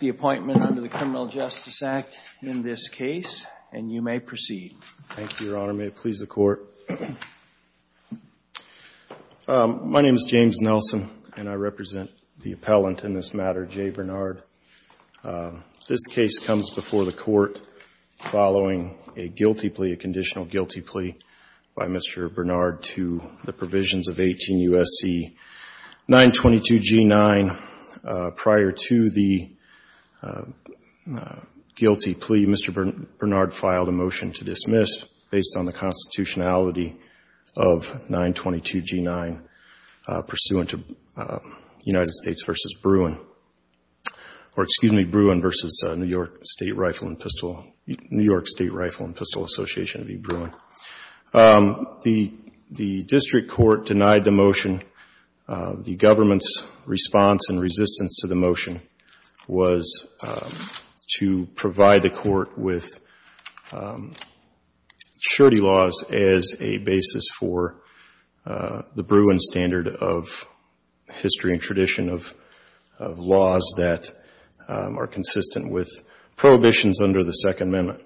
the appointment under the Criminal Justice Act in this case, and you may proceed. Thank you, Your Honor. May it please the Court. My name is James Nelson, and I represent the appellant in this matter, Jae Bernard. This case comes before the Court following a guilty plea, a conditional guilty plea, by Mr. Bernard to the provisions of 18 U.S.C. 922 G-9. Prior to the guilty plea, Mr. Bernard filed a motion to dismiss based on the constitutionality of 922 G-9 pursuant to United States v. Bruin or excuse me, Bruin v. New York State Rifle and Pistol, New York State Rifle and Pistol Association v. Bruin. The District Court denied the motion. The government's response and resistance to the motion was to provide the Court with surety laws as a basis for the Bruin standard of history and tradition of laws that are consistent with prohibitions under the Second Amendment.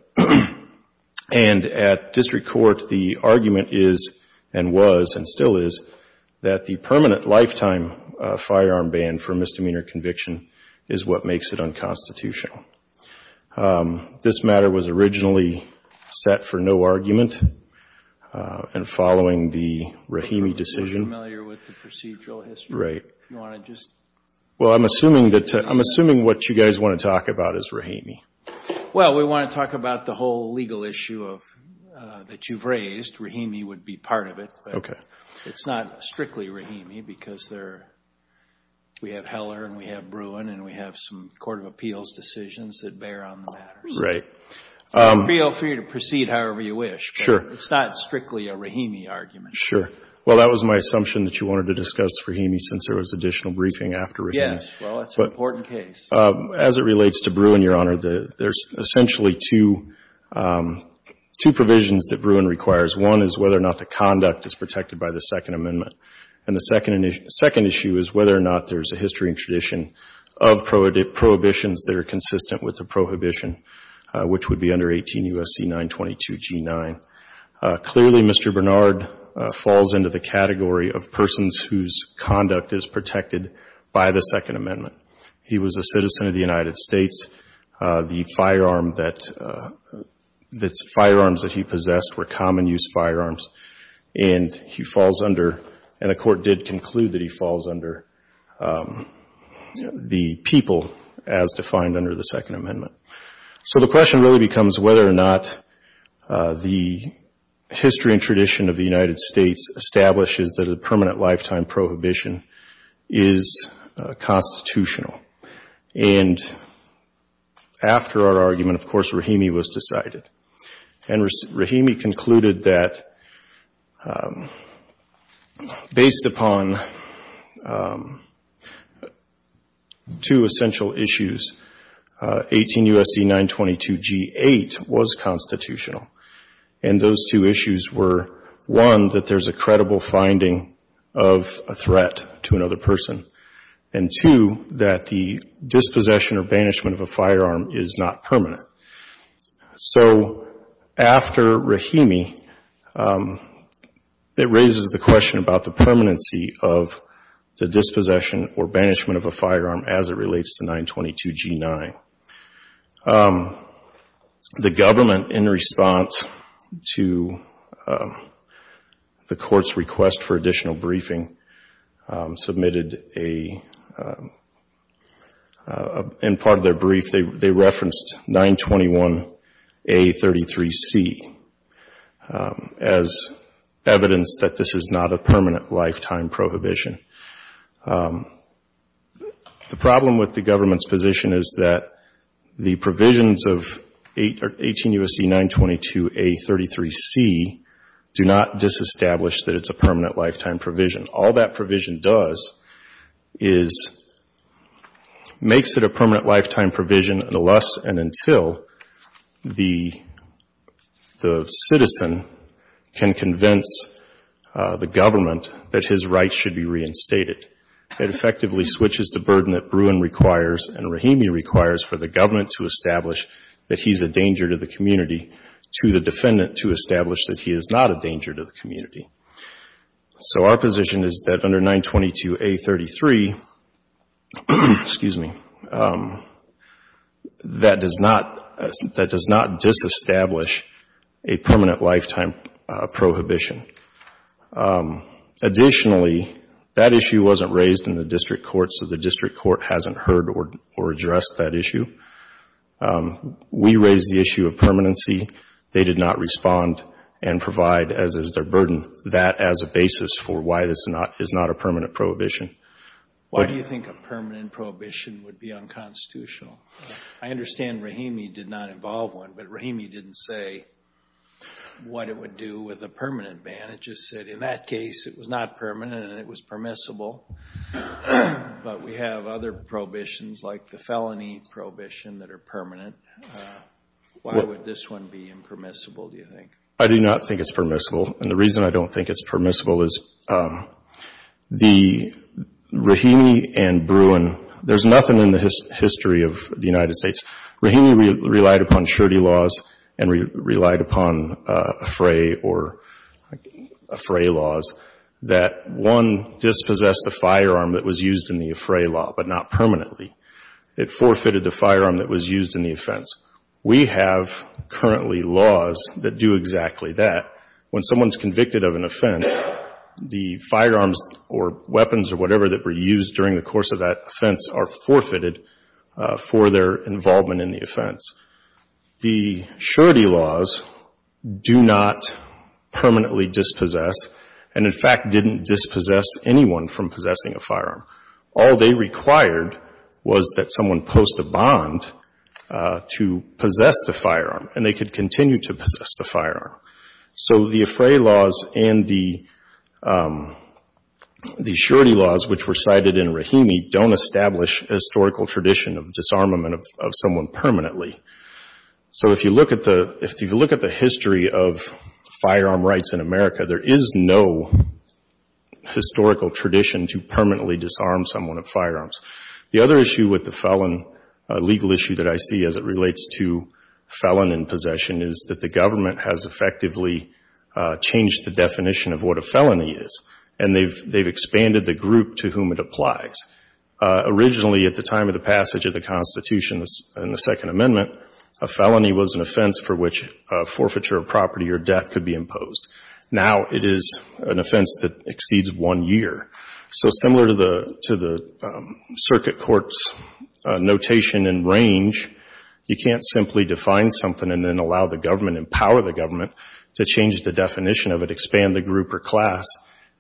And at District Court, the argument is and was and still is that the permanent lifetime firearm ban for misdemeanor conviction is what makes it unconstitutional. This matter was originally set for no argument, and following the Rahimi decision Are you familiar with the procedural history? Right. Do you want to just Well, I'm assuming that, I'm assuming what you guys want to talk about is Rahimi. Well, we want to talk about the whole legal issue of, that you've raised. Rahimi would be part of it. Okay. It's not strictly Rahimi because there, we have Heller and we have Bruin and we have some Court of Appeals decisions that bear on the matters. Right. Feel free to proceed however you wish. Sure. It's not strictly a Rahimi argument. Sure. Well, that was my assumption that you wanted to discuss Rahimi since there was additional briefing after Rahimi. Yes. Well, it's an important case. As it relates to Bruin, Your Honor, there's essentially two provisions that Bruin requires. One is whether or not the conduct is protected by the Second Amendment. And the second issue is whether or not there's a history and tradition of prohibitions that are consistent with the prohibition, which would be under 18 U.S.C. 922g9. Clearly, Mr. Bernard falls into the category of persons whose conduct is protected by the Second Amendment. He was a citizen of the United States. The firearm that, the firearms that he possessed were common use firearms. And he falls under, and the Court did conclude that he falls under the people as defined under the Second Amendment. So the question really becomes whether or not the history and tradition of the United States establishes that a permanent lifetime prohibition is constitutional. And after our argument, of course, Rahimi was decided. And Rahimi concluded that based upon two essential issues, 18 U.S.C. 922g8 was constitutional. And those two issues were, one, that there's a credible finding of a threat to another person, and two, that the dispossession or banishment of a firearm is not permanent. So after Rahimi, it raises the question about the permanency of the dispossession or banishment of a firearm as it relates to 922g9. The government, in response to the Court's request for additional briefing, submitted a, in part of their brief, they referenced 921a33c as evidence that this is not a permanent lifetime prohibition. The problem with the government's position is that the provisions of 18 U.S.C. 922a33c do not disestablish that it's a permanent lifetime provision. All that provision does is makes it a permanent lifetime provision unless and until the citizen can convince the government that his rights should be reinstated. It effectively switches the burden that Bruin requires and Rahimi requires for the government to establish that he's a danger to the community, to the defendant to establish that he is not a danger to the community. So our position is that under 922a33, excuse me, that does not disestablish a permanent lifetime prohibition. Additionally, that issue wasn't raised in the district court so the district court hasn't heard or addressed that issue. We raised the issue of permanency. They did not respond and provide, as is their burden, that as a basis for why this is not a permanent prohibition. Why do you think a permanent prohibition would be unconstitutional? I understand Rahimi did not involve one, but Rahimi didn't say what it would do with a permanent ban. It just said in that case it was not permanent and it was permissible. But we have other prohibitions like the felony prohibition that are permanent. Why would this one be impermissible, do you think? I do not think it's permissible and the reason I don't think it's permissible is Rahimi and Bruin, there's nothing in the history of the United States. Rahimi relied upon surety laws and relied upon fray or fray laws that one dispossessed the firearm that was used in the fray law but not permanently. It forfeited the firearm that was used in the offense. We have currently laws that do exactly that. When someone's convicted of an offense, the firearms or weapons or whatever that were used during the course of that offense are forfeited for their involvement in the offense. The surety laws do not permanently dispossess and, in fact, didn't dispossess anyone from possessing a firearm. All they required was that someone post a bond to possess the firearm and they could continue to possess the firearm. So the fray laws and the surety laws which were cited in Rahimi don't establish a historical tradition of disarmament of someone permanently. So if you look at the history of firearm rights in America, there is no historical tradition to permanently disarm someone of firearms. The other issue with the felon, legal issue that I see as it relates to felon in possession is that the government has effectively changed the definition of what a felony is and they've expanded the group to whom it applies. Originally, at the time of the passage of the Constitution and the Second Amendment, a felony was an offense for which forfeiture of property or death could be imposed. Now it is an offense that exceeds one year. So similar to the circuit court's notation and range, you can't simply define something and then allow the government, empower the government to change the definition of it, expand the group or class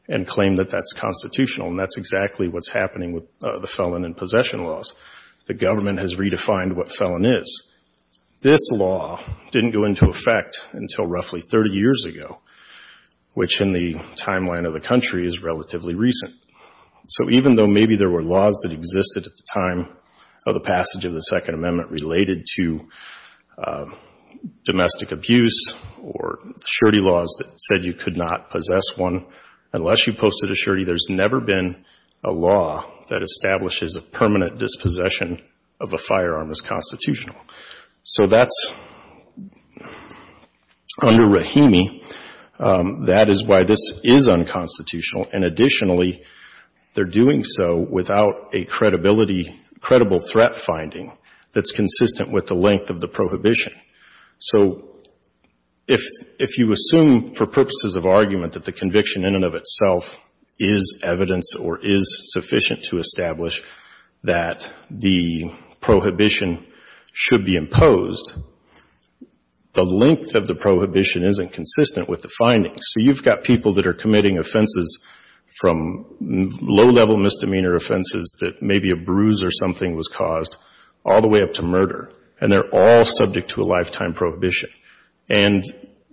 and claim that that's constitutional. And that's exactly what's happening with the felon in possession laws. The government has redefined what felon is. This law didn't go into effect until roughly 30 years ago, which in the timeline of the country is relatively recent. So even though maybe there were laws that existed at the time of the passage of the Second Amendment related to domestic abuse or surety laws that said you could not possess one unless you posted a surety, there's never been a law that establishes a permanent dispossession of a firearm as constitutional. So that's under Rahimi. That is why this is unconstitutional. And additionally, they're doing so without a credibility, credible threat finding that's consistent with the length of the prohibition. So if you assume for purposes of argument that the conviction in and of itself is evidence or is sufficient to establish that the prohibition should be imposed, the length of the prohibition isn't consistent with the findings. So you've got people that are committing offenses from low-level misdemeanor offenses that maybe a bruise or something was caused all the way up to murder. And they're all subject to a lifetime prohibition. And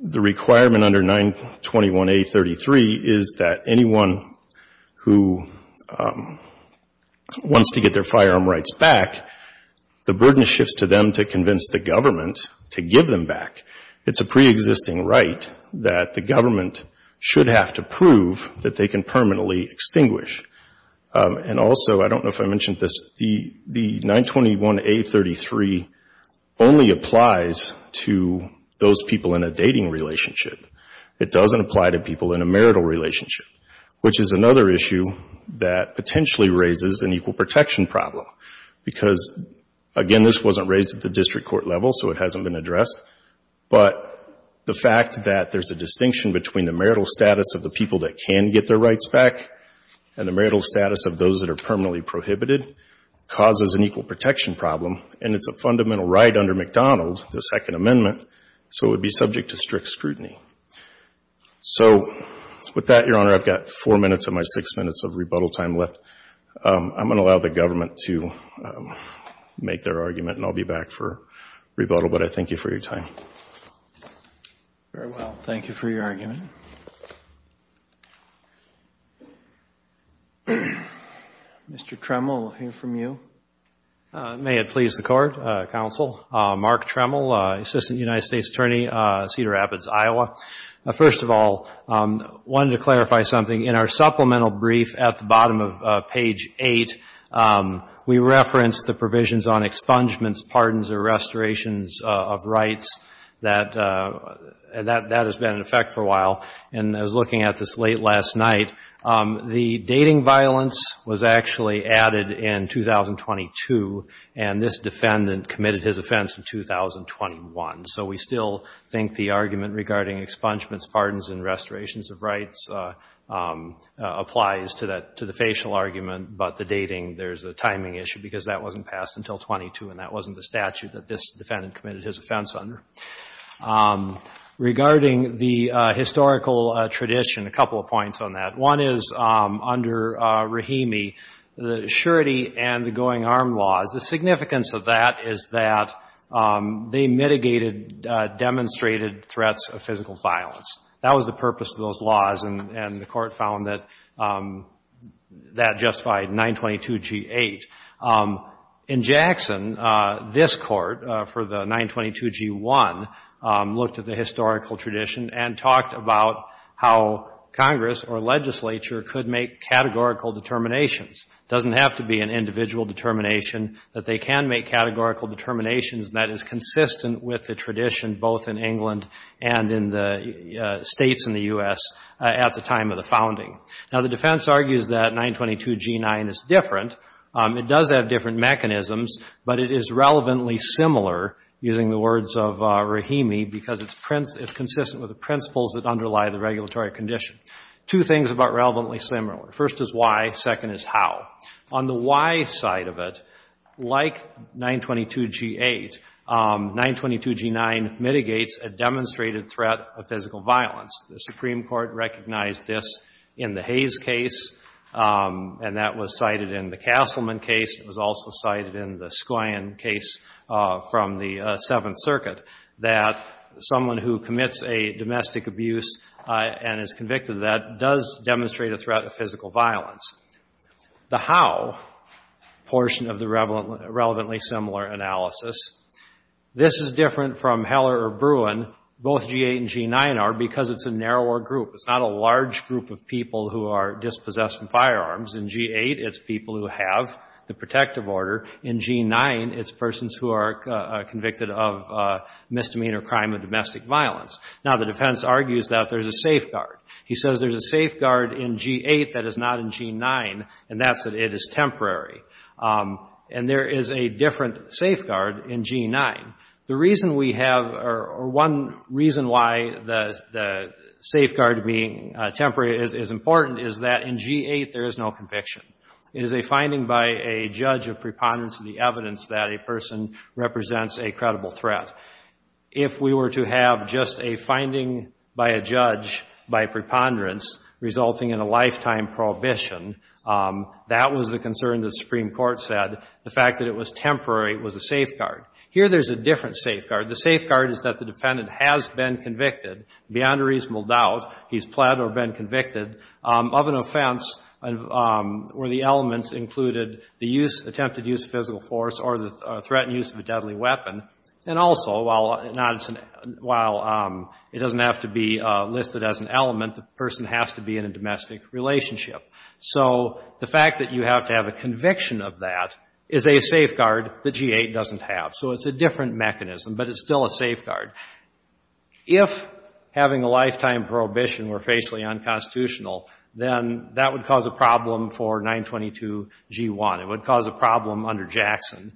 the requirement under 921A33 is that anyone who wants to get their firearm rights back, the burden shifts to them to convince the government to give them back. It's a preexisting right that the government should have to prove that they can permanently extinguish. And those people in a dating relationship, it doesn't apply to people in a marital relationship, which is another issue that potentially raises an equal protection problem. Because, again, this wasn't raised at the district court level, so it hasn't been addressed. But the fact that there's a distinction between the marital status of the people that can get their rights back and the marital status of those that are permanently prohibited causes an equal So it would be subject to strict scrutiny. So with that, Your Honor, I've got four minutes of my six minutes of rebuttal time left. I'm going to allow the government to make their argument and I'll be back for rebuttal. But I thank you for your time. Very well. Thank you for your argument. Mr. Tremel, I'll hear from you. May it please the Court, Counsel. Mark Tremel, Assistant United States Attorney, Cedar Rapids, Iowa. First of all, I wanted to clarify something. In our supplemental brief at the bottom of page 8, we referenced the provisions on expungements, pardons, or restorations of rights that has been in effect for a while. And I was looking at this late last night. The dating violence was actually added in 2022 and this defendant committed his offense in 2021. So we still think the argument regarding expungements, pardons, and restorations of rights applies to the facial argument, but the dating, there's a timing issue because that wasn't passed until 22 and that wasn't the statute that this defendant committed his offense under. Regarding the historical tradition, a couple of points on that. One is under Rahimi, the surety and the going armed laws, the significance of that is that they mitigated, demonstrated threats of physical violence. That was the purpose of those laws and the Court found that that justified 922G8. In Jackson, this Court, for the 922G1, the looked at the historical tradition and talked about how Congress or legislature could make categorical determinations. It doesn't have to be an individual determination, but they can make categorical determinations that is consistent with the tradition both in England and in the states in the U.S. at the time of the founding. Now the defense argues that 922G9 is different. It does have different mechanisms, but it is relevantly similar, using the words of Rahimi, because it's consistent with the principles that underlie the regulatory condition. Two things about relevantly similar. First is why, second is how. On the why side of it, like 922G8, 922G9 mitigates a demonstrated threat of physical violence. The Supreme Court recognized this in the Hayes case and that was cited in the Castleman case. It was also cited in the Scoyan case from the Seventh Circuit that someone who commits a domestic abuse and is convicted of that does demonstrate a threat of physical violence. The how portion of the relevantly similar analysis, this is different from Heller or Bruin. Both 922G8 and 922G9 are because it's a narrower group. It's not a large group of people who are dispossessed in firearms. In 922G8, it's people who have the protective order. In 922G9, it's persons who are convicted of misdemeanor crime of domestic violence. Now the defense argues that there's a safeguard. He says there's a safeguard in 922G8 that is not in 922G9, and that's that it is temporary. And there is a different safeguard in 922G9. The reason we have or one reason why the safeguard being temporary is important is that in 922G8, there is no conviction. It is a finding by a judge of preponderance of the evidence that a person represents a credible threat. If we were to have just a finding by a judge by preponderance resulting in a lifetime prohibition, that was the concern the Supreme Court said. The fact that it was temporary was a safeguard. Here there's a different safeguard. The safeguard is that the defendant has been convicted beyond a reasonable doubt. He's pled or been convicted of an offense where the elements included the use, attempted use of physical force or the threatened use of a deadly weapon. And also, while it doesn't have to be listed as an element, the person has to be in a domestic relationship. So the fact that you have to have a conviction of that is a safeguard that G8 doesn't have. So it's a different mechanism, but it's still a safeguard. If having a lifetime prohibition were facially unconstitutional, then that would cause a problem for 922G1. It would cause a problem under Jackson.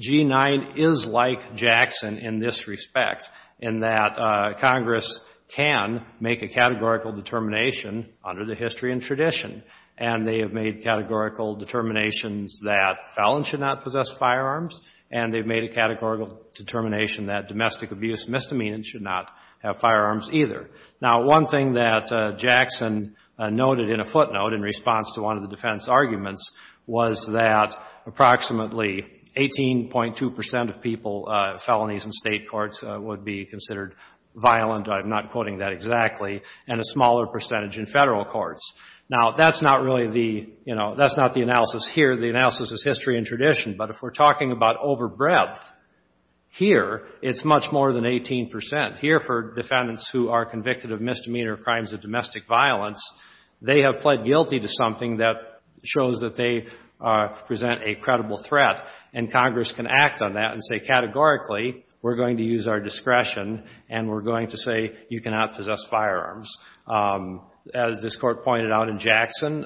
G9 is like Jackson in this respect in that Congress can make a categorical determination under the history and tradition. And they have made categorical determinations that felons should not possess firearms. And they've made a categorical determination that domestic abuse misdemeanors should not have firearms either. Now one thing that Jackson noted in a footnote in response to one of the defense arguments was that approximately 18.2 percent of people, felonies in state courts would be considered violent. I'm not quoting that exactly. And a smaller percentage in federal courts. Now that's not really the, you know, that's not the analysis here. The analysis is history and tradition. But if we're talking about over breadth, here it's much more than 18 percent. Here for defendants who are convicted of misdemeanor crimes of domestic violence, they have pled guilty to something that shows that they present a credible threat. And Congress can act on that and say categorically we're going to use our discretion and we're going to say you cannot possess firearms. As this court pointed out in Jackson,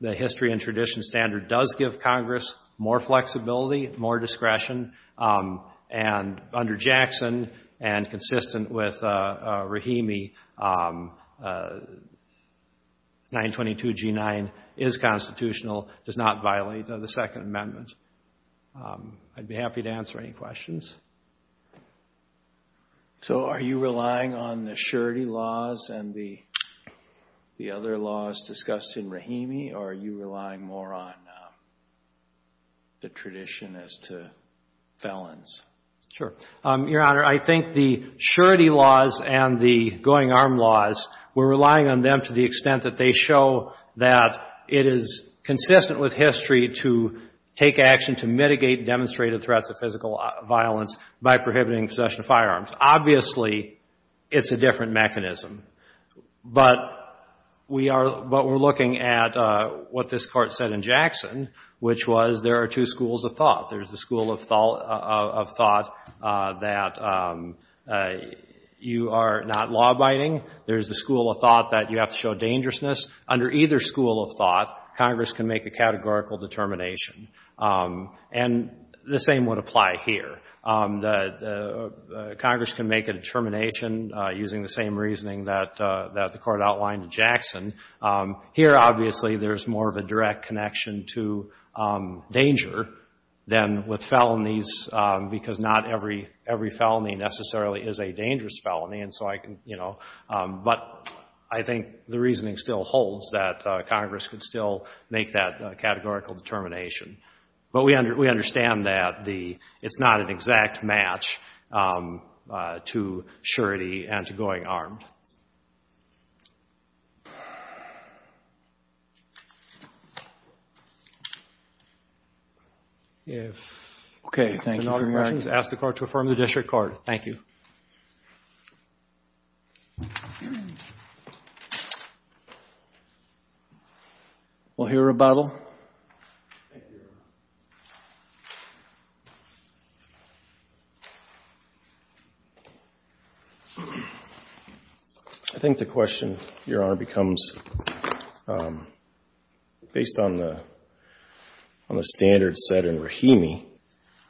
the history and tradition standard does give Congress more flexibility, more discretion. And under Jackson and consistent with Rahimi, 922 G9 is constitutional, does not violate the Second Amendment. I'd be happy to answer any questions. So are you relying on the surety laws and the other laws discussed in Rahimi or are you relying more on the tradition as to felons? Sure. Your Honor, I think the surety laws and the going arm laws, we're relying on them to the extent that they show that it is consistent with history to take action to mitigate demonstrated threats of physical violence by prohibiting possession of firearms. Obviously, it's a different mechanism. But we're looking at what this Court said in Jackson, which was there are two schools of thought. There's the school of thought that you are not law-abiding. There's the school of thought that you have to show dangerousness. Under either school of thought, Congress can make a categorical determination. And the same would apply here. Congress can make a determination using the same reasoning that the Court outlined in Jackson. Here, obviously, there's more of a direct connection to danger than with felonies because not every felony necessarily is a dangerous felony. But I think the reasoning still holds that Congress could still make that categorical determination. But we understand that it's not an exact match to surety and to going armed. If there are no other questions, ask the Court to affirm the district card. Thank you. We'll hear a rebuttal. I think the question, Your Honor, becomes based on the standard set in Rahimi,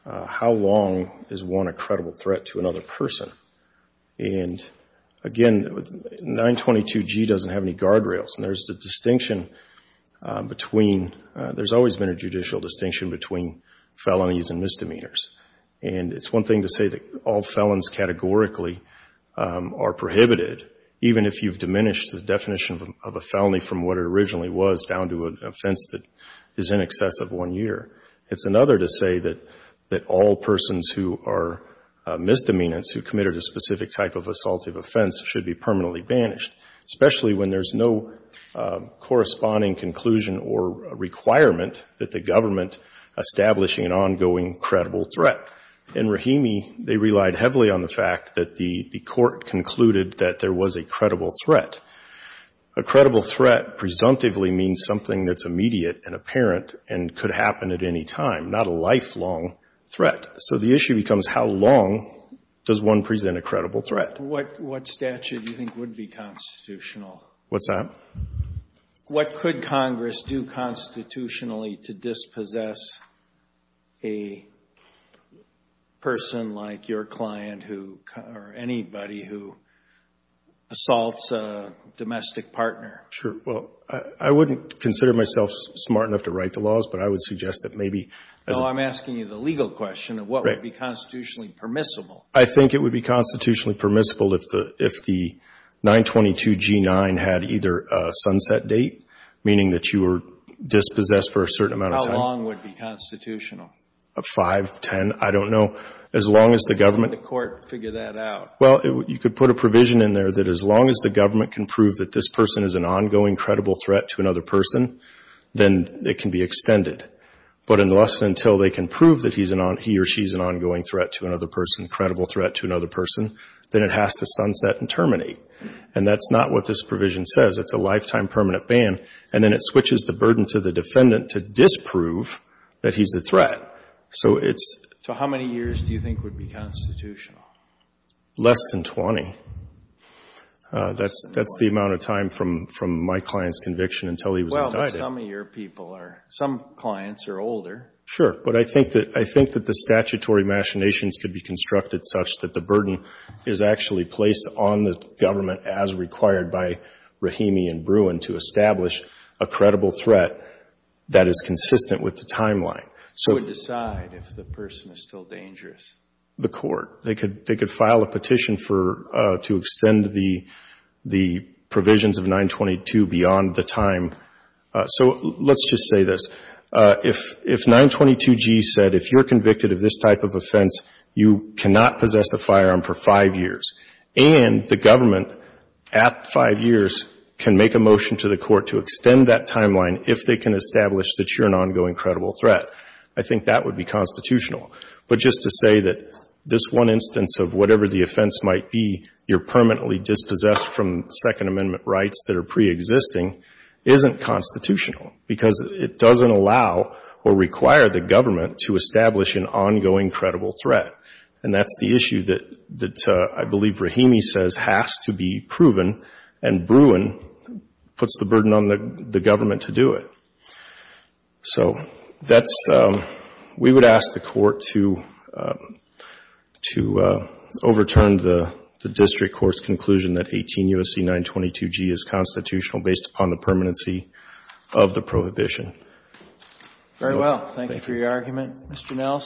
how long is one a credible threat to another person? And again, 922G doesn't have any guardrails. There's a distinction between, there's always been a judicial distinction between felonies and misdemeanors. And it's one thing to say that all felons categorically are prohibited, even if you've diminished the definition of a felony from what it originally was down to an offense that is in excess of one year. It's another to say that all persons who are misdemeanors who committed a specific type of assaultive offense should be permanently banished, especially when there's no corresponding conclusion or requirement that the government establishing an ongoing credible threat. In Rahimi, they relied heavily on the fact that the Court concluded that there was a credible threat. A credible threat presumptively means something that's immediate and apparent and could happen at any time, not a lifelong threat. So the issue becomes how long does one present a credible threat? What statute do you think would be constitutional? What's that? What could Congress do constitutionally to dispossess a person like your client who, or anybody who assaults a domestic partner? Sure. Well, I wouldn't consider myself smart enough to write the laws, but I would suggest that maybe. No, I'm asking you the legal question of what would be constitutionally permissible. I think it would be constitutionally permissible if the 922G9 had either a sunset date, meaning that you were dispossessed for a certain amount of time. How long would be constitutional? Five, ten, I don't know. As long as the government. How would the Court figure that out? Well, you could put a provision in there that as long as the government can prove that this person is an ongoing credible threat to another person, then it can be extended. But unless until they can prove that he or she is an ongoing threat to another person, a credible threat to another person, then it has to sunset and terminate. And that's not what this provision says. It's a lifetime permanent ban. And then it switches the burden to the defendant to disprove that he's a threat. So it's... How many years do you think would be constitutional? Less than 20. That's the amount of time from my client's conviction until he was indicted. Some of your people are, some clients are older. Sure. But I think that the statutory machinations could be constructed such that the burden is actually placed on the government as required by Rahimi and Bruin to establish a credible threat that is consistent with the timeline. So it would decide if the person is still dangerous. The Court. They could file a petition to extend the provisions of 922 beyond the time So let's just say this. If 922G said if you're convicted of this type of offense, you cannot possess a firearm for five years, and the government at five years can make a motion to the Court to extend that timeline if they can establish that you're an ongoing credible threat. I think that would be constitutional. But just to say that this one instance of whatever the offense might be, you're permanently dispossessed from Second Amendment rights that are preexisting isn't constitutional because it doesn't allow or require the government to establish an ongoing credible threat. And that's the issue that I believe Rahimi says has to be proven, and Bruin puts the burden on the government to do it. So that's, we would ask the Court to overturn the district court's conclusion that 18 U.S.C. 922G is constitutional based upon the permanency of the prohibition. Very well. Thank you for your argument.